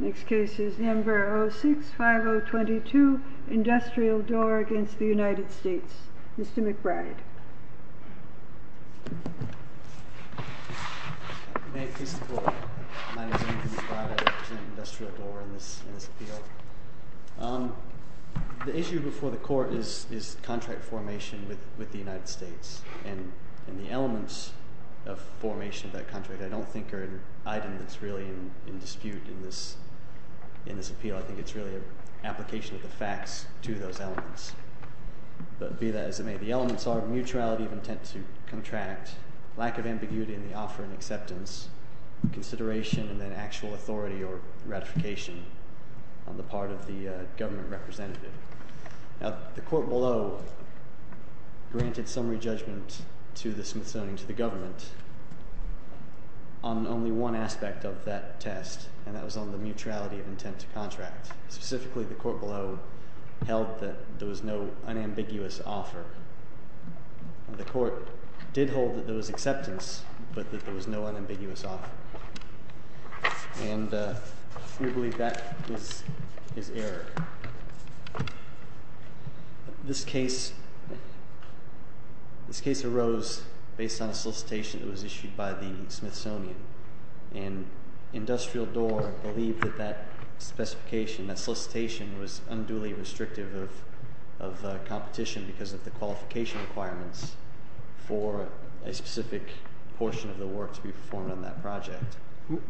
Next case is Henver 06-5022, Industrial Door against the United States, Mr. McBride. May it please the Court, my name is Anthony McBride, I represent Industrial Door in this appeal. The issue before the Court is contract formation with the United States and the elements of formation of that contract, I don't think are an item that's really in dispute in this appeal, I think it's really an application of the facts to those elements. But be that as it may, the elements are mutuality of intent to contract, lack of ambiguity in the offer and acceptance, consideration and then actual authority or ratification on the part of the government representative. Now the Court below granted summary judgment to the Smithsonian, to the government, on only one aspect of that test and that was on the mutuality of intent to contract. Specifically the Court below held that there was no unambiguous offer. The Court did hold that there was acceptance but that there was no unambiguous offer. And we believe that was his error. This case arose based on a solicitation that was issued by the Smithsonian. And Industrial Door believed that that specification, that solicitation was unduly restrictive of competition because of the qualification requirements for a specific portion of the work to be performed on that project. One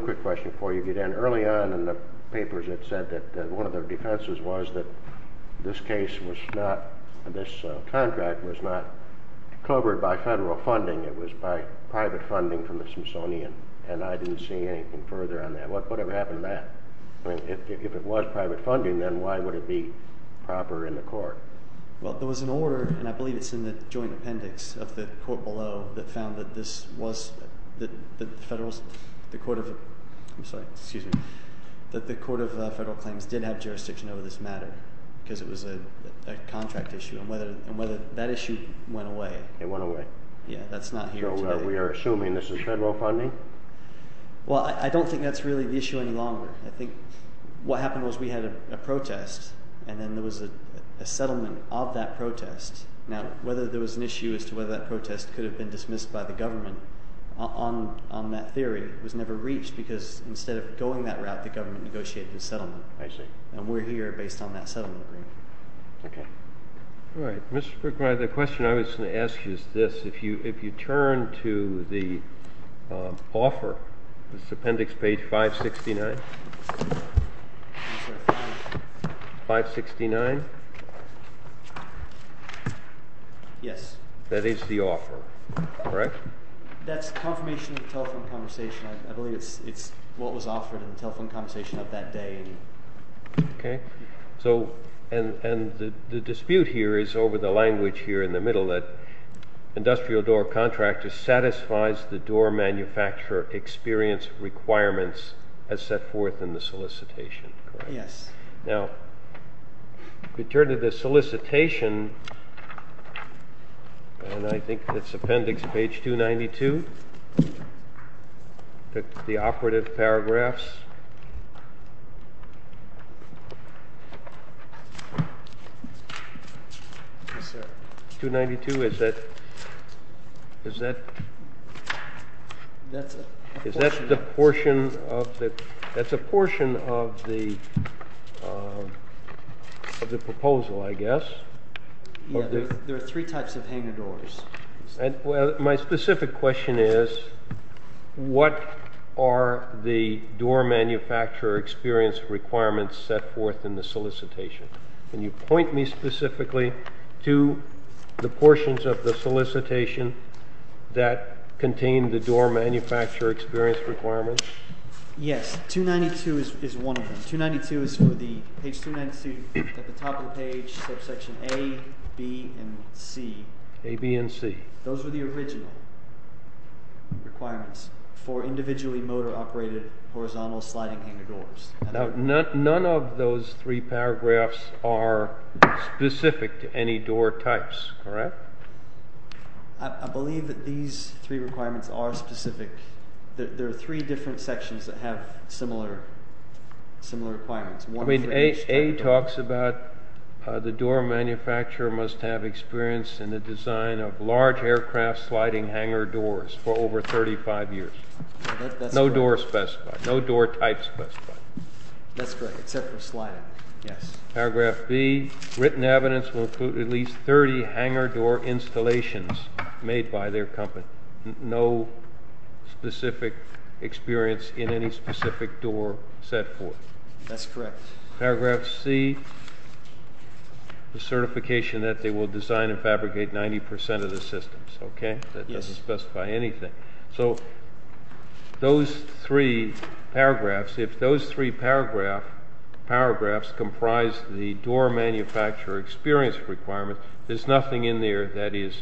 quick question before you get in. Early on in the papers it said that one of their defenses was that this case was not, this contract was not covered by federal funding, it was by private funding from the Smithsonian. And I didn't see anything further on that. Whatever happened to that? If it was private funding, then why would it be proper in the Court? Well, there was an order, and I believe it's in the joint appendix of the Court below, that found that this was, that the Court of Federal Claims did have jurisdiction over this matter because it was a contract issue and that issue went away. It went away. Yeah, that's not here today. So we are assuming this is federal funding? Well, I don't think that's really the issue any longer. I think what happened was we had a protest, and then there was a settlement of that protest. Now, whether there was an issue as to whether that protest could have been dismissed by the government on that theory was never reached because instead of going that route, the government negotiated the settlement. I see. Okay. All right. Mr. McBride, the question I was going to ask you is this. If you turn to the offer, this appendix, page 569? 569? Yes. That is the offer, correct? That's confirmation of the telephone conversation. I believe it's what was offered in the telephone conversation of that day. Okay. And the dispute here is over the language here in the middle that industrial door contractor satisfies the door manufacturer experience requirements as set forth in the solicitation, correct? Yes. Now, if you turn to the solicitation, and I think it's appendix, page 292? The operative paragraphs? Yes, sir. 292, is that the portion of the proposal, I guess? Yes. There are three types of hanging doors. My specific question is, what are the door manufacturer experience requirements set forth in the solicitation? Can you point me specifically to the portions of the solicitation that contain the door manufacturer experience requirements? Yes. 292 is one of them. Page 292, at the top of the page, section A, B, and C. A, B, and C. Those are the original requirements for individually motor-operated horizontal sliding hanger doors. Now, none of those three paragraphs are specific to any door types, correct? I believe that these three requirements are specific. There are three different sections that have similar requirements. I mean, A talks about the door manufacturer must have experience in the design of large aircraft sliding hanger doors for over 35 years. No door specified. No door type specified. That's correct, except for sliding, yes. Paragraph B, written evidence will include at least 30 hanger door installations made by their company. No specific experience in any specific door set forth. That's correct. Paragraph C, the certification that they will design and fabricate 90% of the systems, okay? That doesn't specify anything. So those three paragraphs, if those three paragraphs comprise the door manufacturer experience requirement, there's nothing in there that is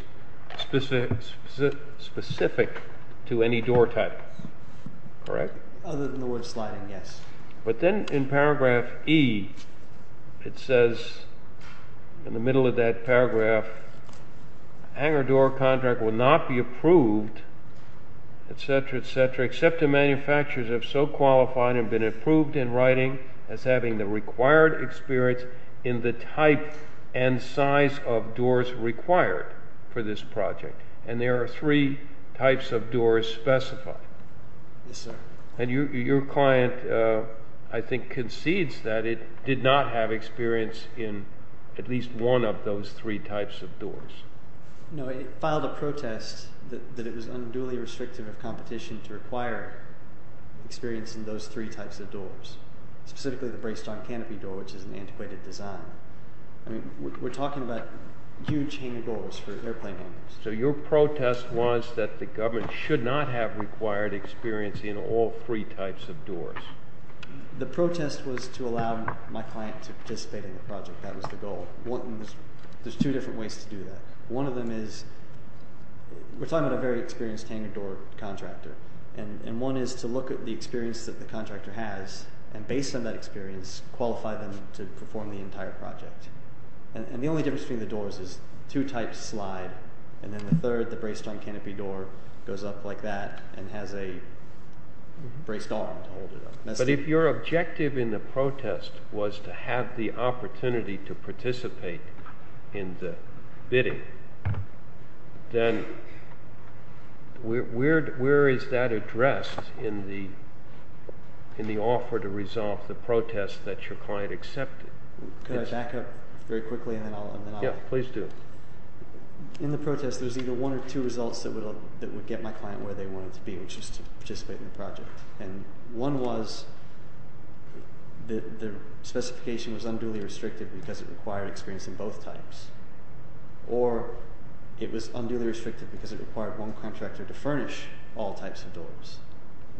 specific to any door type, correct? Other than the word sliding, yes. But then in paragraph E, it says, in the middle of that paragraph, hanger door contract will not be approved, etc., etc., except the manufacturers have so qualified and been approved in writing as having the required experience in the type and size of doors required for this project. And there are three types of doors specified. Yes, sir. And your client, I think, concedes that it did not have experience in at least one of those three types of doors. No, it filed a protest that it was unduly restrictive of competition to require experience in those three types of doors, specifically the bracedock canopy door, which is an antiquated design. I mean, we're talking about huge hanger doors for airplane hangers. So your protest was that the government should not have required experience in all three types of doors. The protest was to allow my client to participate in the project. That was the goal. There's two different ways to do that. One of them is we're talking about a very experienced hanger door contractor, and one is to look at the experience that the contractor has, and based on that experience, qualify them to perform the entire project. And the only difference between the doors is two types slide, and then the third, the bracedock canopy door, goes up like that and has a braced arm to hold it up. But if your objective in the protest was to have the opportunity to participate in the bidding, then where is that addressed in the offer to resolve the protest that your client accepted? Could I back up very quickly? Yeah, please do. In the protest, there's either one or two results that would get my client where they wanted to be, which is to participate in the project. And one was the specification was unduly restricted because it required experience in both types, or it was unduly restricted because it required one contractor to furnish all types of doors.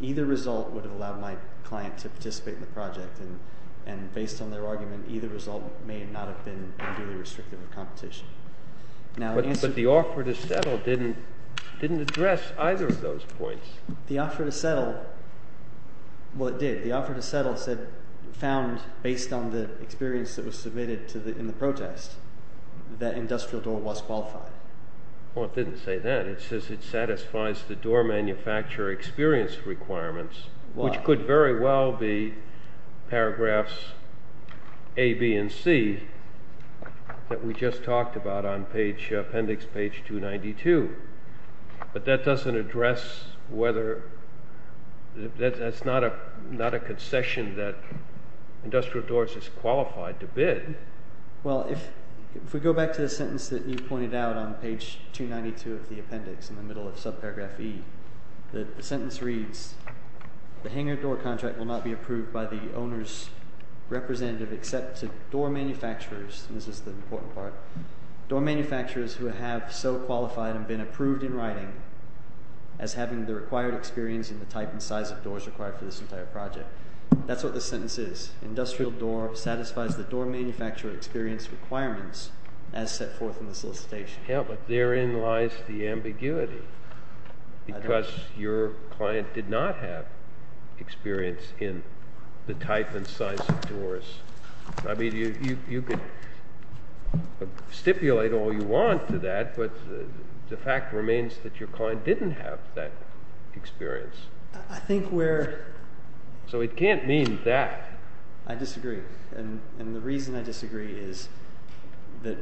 Either result would have allowed my client to participate in the project, and based on their argument, either result may not have been unduly restrictive of competition. But the offer to settle didn't address either of those points. The offer to settle, well, it did. The offer to settle found, based on the experience that was submitted in the protest, that industrial door was qualified. Well, it didn't say that. It says it satisfies the door manufacturer experience requirements, which could very well be paragraphs A, B, and C that we just talked about on appendix page 292. But that doesn't address whether that's not a concession that industrial doors is qualified to bid. Well, if we go back to the sentence that you pointed out on page 292 of the appendix in the middle of subparagraph E, the sentence reads, the hangar door contract will not be approved by the owner's representative except to door manufacturers, and this is the important part, door manufacturers who have so qualified and been approved in writing as having the required experience in the type and size of doors required for this entire project. That's what this sentence is. Industrial door satisfies the door manufacturer experience requirements as set forth in the solicitation. Yeah, but therein lies the ambiguity because your client did not have experience in the type and size of doors. I mean, you could stipulate all you want to that, but the fact remains that your client didn't have that experience. So it can't mean that. I disagree. And the reason I disagree is that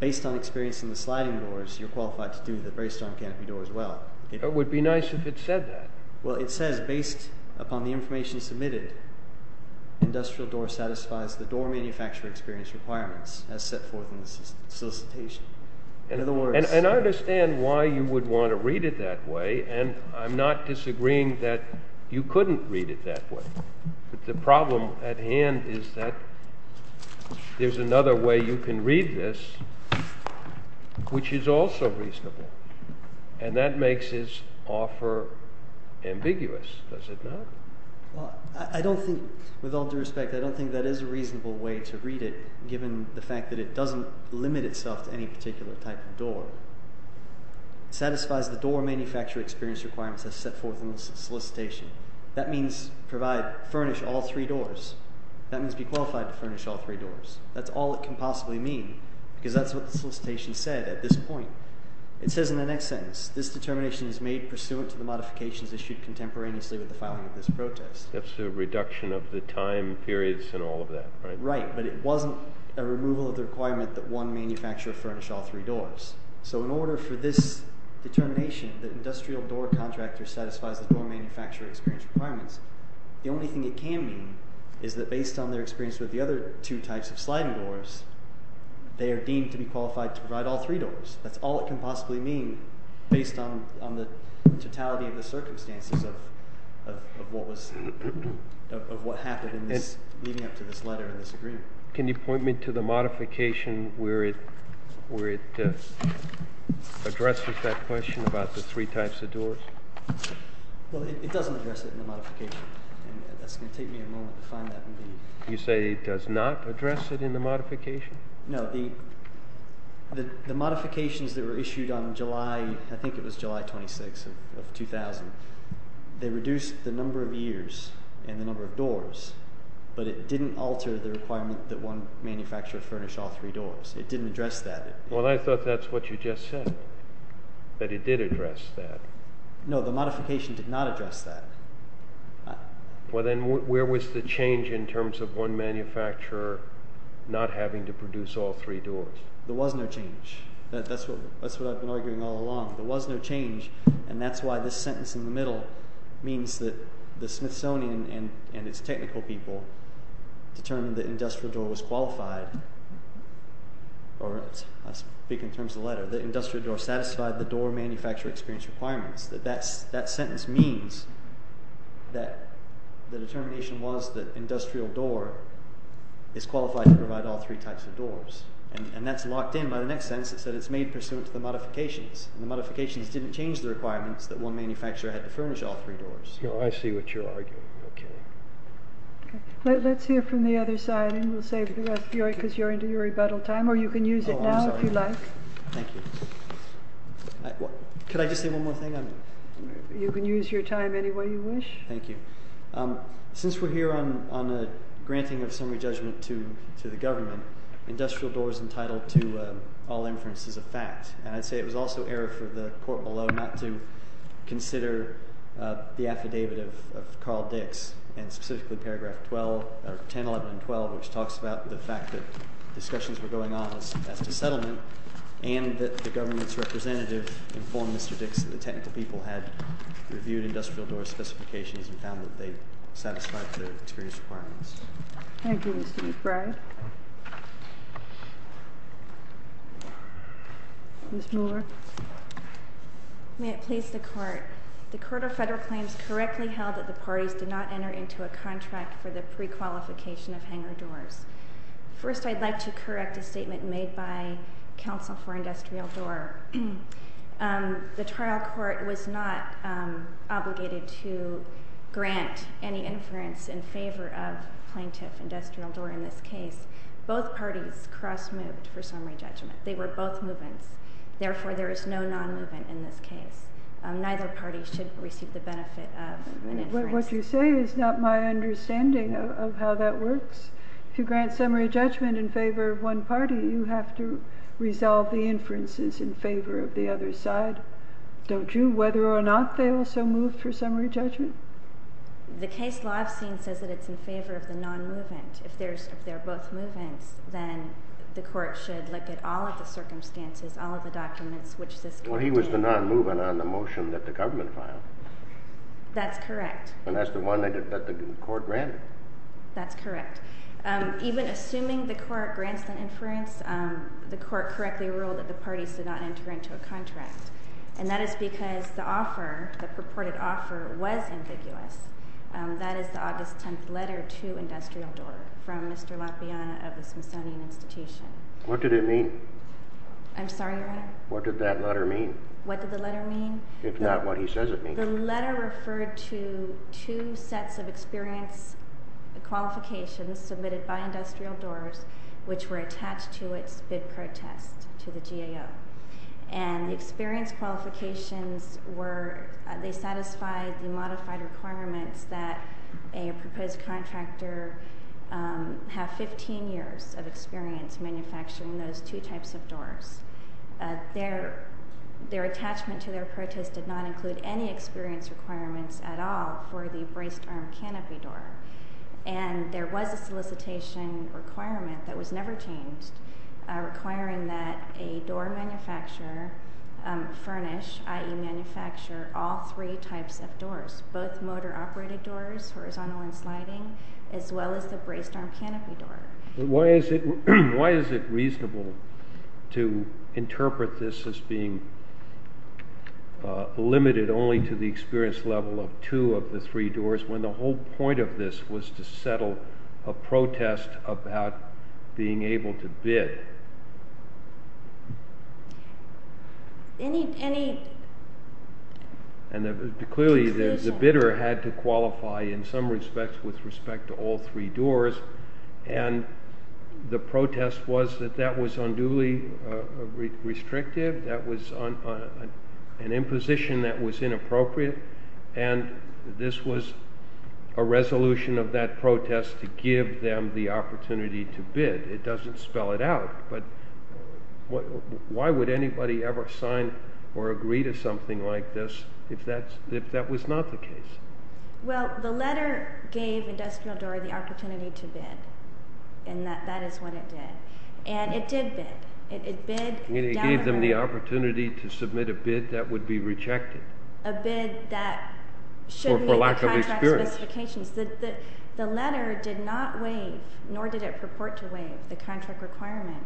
based on experience in the sliding doors, you're qualified to do that based on canopy doors as well. It would be nice if it said that. Well, it says, based upon the information submitted, industrial door satisfies the door manufacturer experience requirements as set forth in the solicitation. And I understand why you would want to read it that way, and I'm not disagreeing that you couldn't read it that way. The problem at hand is that there's another way you can read this which is also reasonable, and that makes his offer ambiguous, does it not? Well, I don't think, with all due respect, I don't think that is a reasonable way to read it given the fact that it doesn't limit itself to any particular type of door. It satisfies the door manufacturer experience requirements as set forth in the solicitation. That means furnish all three doors. That means be qualified to furnish all three doors. That's all it can possibly mean because that's what the solicitation said at this point. It says in the next sentence, this determination is made pursuant to the modifications issued contemporaneously with the filing of this protest. That's a reduction of the time periods and all of that, right? Right, but it wasn't a removal of the requirement that one manufacturer furnish all three doors. So in order for this determination that industrial door contractor satisfies the door manufacturer experience requirements, the only thing it can mean is that based on their experience with the other two types of sliding doors, they are deemed to be qualified to provide all three doors. That's all it can possibly mean based on the totality of the circumstances of what happened leading up to this letter and this agreement. Can you point me to the modification where it addresses that question about the three types of doors? Well, it doesn't address it in the modification, and that's going to take me a moment to find that. You say it does not address it in the modification? No, the modifications that were issued on July, I think it was July 26 of 2000, they reduced the number of years and the number of doors, but it didn't alter the requirement that one manufacturer furnish all three doors. It didn't address that. Well, I thought that's what you just said, that it did address that. No, the modification did not address that. Well, then where was the change in terms of one manufacturer not having to produce all three doors? There was no change. That's what I've been arguing all along. There was no change, and that's why this sentence in the middle means that the Smithsonian and its technical people determined that industrial door was qualified. I speak in terms of the letter. The industrial door satisfied the door manufacturer experience requirements. That sentence means that the determination was that industrial door is qualified to provide all three types of doors, and that's locked in by the next sentence. It said it's made pursuant to the modifications, and the modifications didn't change the requirements that one manufacturer had to furnish all three doors. I see what you're arguing. Okay. Let's hear from the other side, and we'll save the rest for you because you're into your rebuttal time, or you can use it now if you like. Thank you. Could I just say one more thing? You can use your time any way you wish. Thank you. Since we're here on a granting of summary judgment to the government, industrial door is entitled to all inferences of fact, and I'd say it was also error for the court below not to consider the affidavit of Carl Dix, and specifically paragraph 10, 11, and 12, which talks about the fact that discussions were going on as to settlement and that the government's representative informed Mr. Dix that the technical people had reviewed industrial door specifications and found that they satisfied the experience requirements. Thank you, Mr. McBride. Ms. Moore. May it please the court, the court of federal claims correctly held that the parties did not enter into a contract for the prequalification of hangar doors. First, I'd like to correct a statement made by counsel for industrial door. The trial court was not obligated to grant any inference in favor of plaintiff industrial door in this case. Both parties cross-moved for summary judgment. They were both move-ins. Therefore, there is no non-move-in in this case. Neither party should receive the benefit of an inference. What you say is not my understanding of how that works. To grant summary judgment in favor of one party, you have to resolve the inferences in favor of the other side. Don't you? Whether or not they also moved for summary judgment? The case law I've seen says that it's in favor of the non-move-in. If they're both move-ins, then the court should look at all of the circumstances, all of the documents, which this could be. Well, he was the non-move-in on the motion that the government filed. That's correct. And that's the one that the court granted. That's correct. Even assuming the court grants an inference, the court correctly ruled that the parties should not enter into a contract. And that is because the offer, the purported offer, was ambiguous. That is the August 10th letter to industrial door from Mr. Lapiana of the Smithsonian Institution. What did it mean? I'm sorry, Your Honor? What did that letter mean? What did the letter mean? If not what he says it means. The letter referred to two sets of experience qualifications submitted by industrial doors, which were attached to its bid protest to the GAO. And the experience qualifications were they satisfied the modified requirements that a proposed contractor have 15 years of experience manufacturing those two types of doors. Their attachment to their protest did not include any experience requirements at all for the braced-arm canopy door. And there was a solicitation requirement that was never changed requiring that a door manufacturer furnish, i.e., manufacture all three types of doors, both motor-operated doors, horizontal and sliding, as well as the braced-arm canopy door. Why is it reasonable to interpret this as being limited only to the experience level of two of the three doors when the whole point of this was to settle a protest about being able to bid? Clearly the bidder had to qualify in some respects with respect to all three doors. And the protest was that that was unduly restrictive. That was an imposition that was inappropriate. And this was a resolution of that protest to give them the opportunity to bid. It doesn't spell it out. But why would anybody ever sign or agree to something like this if that was not the case? Well, the letter gave Industrial Door the opportunity to bid. And that is what it did. And it did bid. It bid down. It gave them the opportunity to submit a bid that would be rejected. A bid that should meet the contract specifications. Or for lack of experience. The letter did not waive, nor did it purport to waive, the contract requirement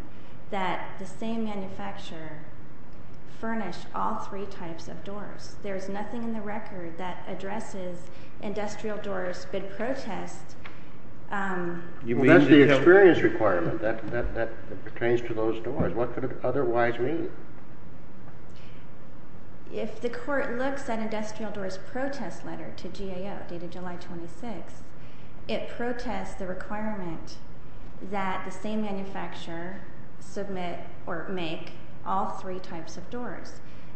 that the same manufacturer furnish all three types of doors. There is nothing in the record that addresses Industrial Door's bid protest. That's the experience requirement that pertains to those doors. What could it otherwise mean? If the court looks at Industrial Door's protest letter to GAO dated July 26th, it protests the requirement that the same manufacturer submit or make all three types of doors.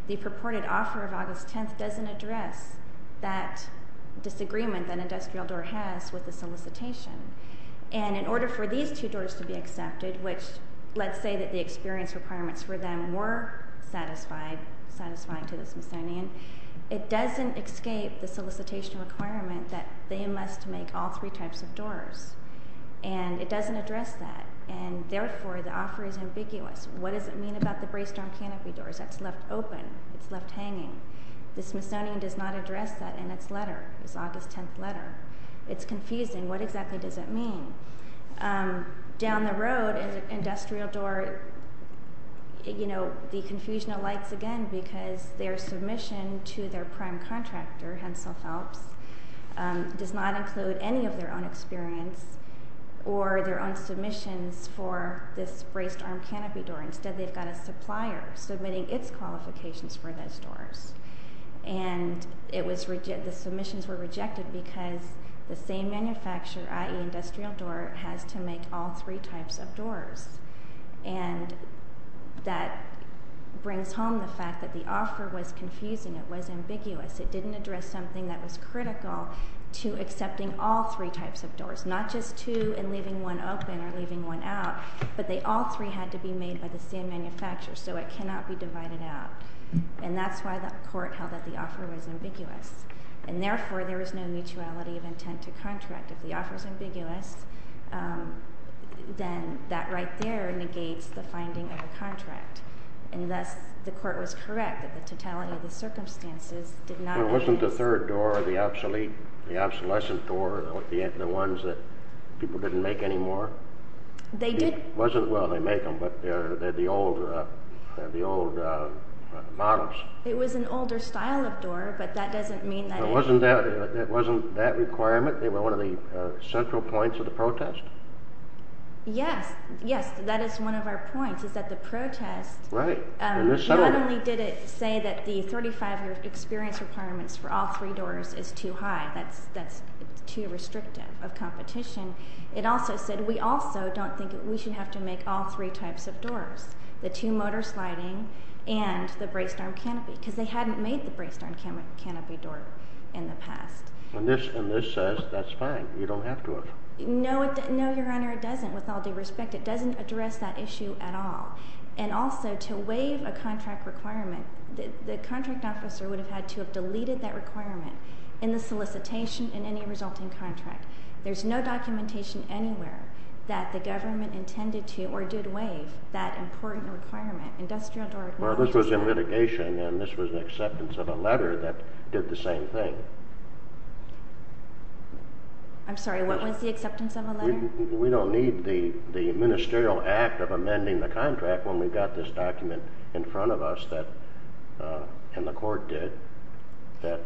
The purported offer of August 10th doesn't address that disagreement that Industrial Door has with the solicitation. And in order for these two doors to be accepted, which let's say that the experience requirements for them were satisfying to the Smithsonian, it doesn't escape the solicitation requirement that they must make all three types of doors. And it doesn't address that. And therefore, the offer is ambiguous. What does it mean about the braced-arm canopy doors? That's left open. It's left hanging. The Smithsonian does not address that in its letter, its August 10th letter. It's confusing. What exactly does it mean? Down the road, Industrial Door, you know, the confusion alights again because their submission to their prime contractor, Hensel Phelps, does not include any of their own experience or their own submissions for this braced-arm canopy door. Instead, they've got a supplier submitting its qualifications for those doors. And the submissions were rejected because the same manufacturer, i.e. Industrial Door, has to make all three types of doors. And that brings home the fact that the offer was confusing. It was ambiguous. It didn't address something that was critical to accepting all three types of doors, not just two and leaving one open or leaving one out. But all three had to be made by the same manufacturer, so it cannot be divided out. And that's why the court held that the offer was ambiguous. And therefore, there is no mutuality of intent to contract. If the offer is ambiguous, then that right there negates the finding of the contract. And thus, the court was correct that the totality of the circumstances did not… Well, wasn't the third door, the obsolete, the obsolescent door, the ones that people didn't make anymore? They did. Well, they make them, but they're the old models. It was an older style of door, but that doesn't mean that… It wasn't that requirement? They were one of the central points of the protest? Yes. Yes, that is one of our points, is that the protest… Right. Not only did it say that the 35-year experience requirements for all three doors is too high. That's too restrictive of competition. It also said we also don't think we should have to make all three types of doors, the two-motor sliding and the braced-arm canopy, because they hadn't made the braced-arm canopy door in the past. And this says that's fine. You don't have to have… No, Your Honor, it doesn't, with all due respect. It doesn't address that issue at all. And also, to waive a contract requirement, the contract officer would have had to have deleted that requirement in the solicitation in any resulting contract. There's no documentation anywhere that the government intended to or did waive that important requirement. Well, this was in litigation, and this was the acceptance of a letter that did the same thing. I'm sorry, what was the acceptance of a letter? We don't need the ministerial act of amending the contract when we've got this document in front of us, and the court did, that,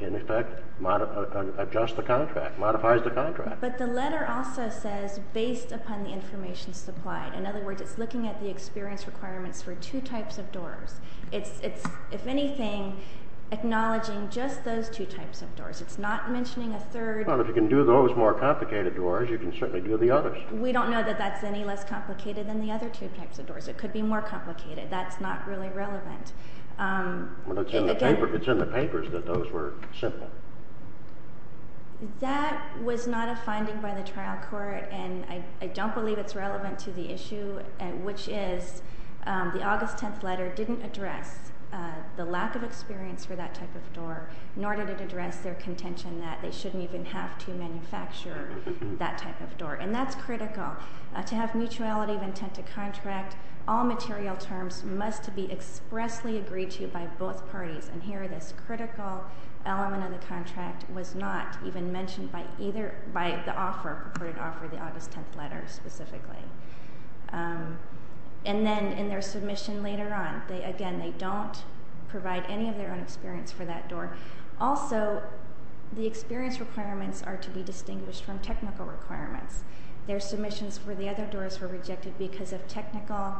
in effect, adjusts the contract, modifies the contract. But the letter also says, based upon the information supplied. In other words, it's looking at the experience requirements for two types of doors. It's, if anything, acknowledging just those two types of doors. It's not mentioning a third. Well, if you can do those more complicated doors, you can certainly do the others. We don't know that that's any less complicated than the other two types of doors. It could be more complicated. That's not really relevant. It's in the papers that those were simple. That was not a finding by the trial court, and I don't believe it's relevant to the issue, which is the August 10th letter didn't address the lack of experience for that type of door, nor did it address their contention that they shouldn't even have to manufacture that type of door. And that's critical. To have mutuality of intent to contract, all material terms must be expressly agreed to by both parties. And here, this critical element of the contract was not even mentioned by the offer, purported offer, the August 10th letter specifically. And then in their submission later on, again, they don't provide any of their own experience for that door. Also, the experience requirements are to be distinguished from technical requirements. Their submissions for the other doors were rejected because of technical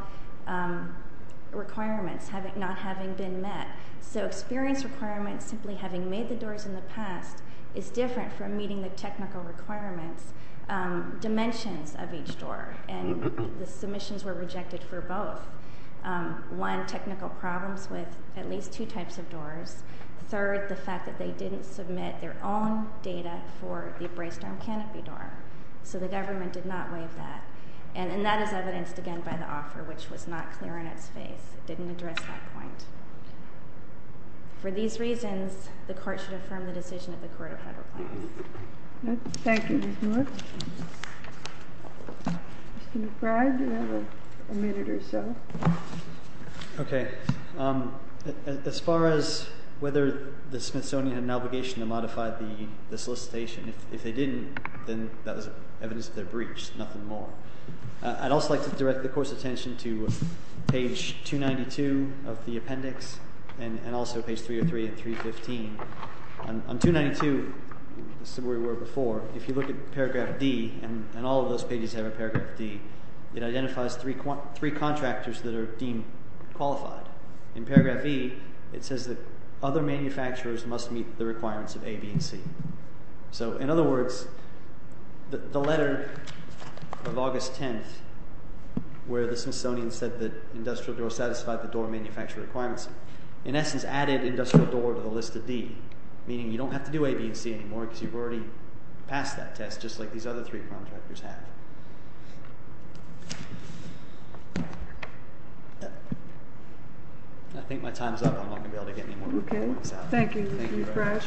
requirements not having been met. So experience requirements simply having made the doors in the past is different from meeting the technical requirements, dimensions of each door, and the submissions were rejected for both. One, technical problems with at least two types of doors. Third, the fact that they didn't submit their own data for the braced-arm canopy door. So the government did not waive that. And that is evidenced again by the offer, which was not clear in its face. It didn't address that point. For these reasons, the court should affirm the decision of the Court of Federal Plans. Thank you, Ms. Moore. Mr. McBride, you have a minute or so. Okay. As far as whether the Smithsonian had an obligation to modify the solicitation, if they didn't, then that was evidence of their breach, nothing more. I'd also like to direct the Court's attention to page 292 of the appendix and also page 303 and 315. On 292, as we were before, if you look at paragraph D, and all of those pages have a paragraph D, it identifies three contractors that are deemed qualified. In paragraph E, it says that other manufacturers must meet the requirements of A, B, and C. So in other words, the letter of August 10th where the Smithsonian said that industrial doors satisfied the door manufacturer requirements, in essence added industrial door to the list of D, meaning you don't have to do A, B, and C anymore because you've already passed that test just like these other three contractors have. I think my time is up. I'm not going to be able to get any more reports out. Okay. Thank you, Mr. McBride. Thank you very much.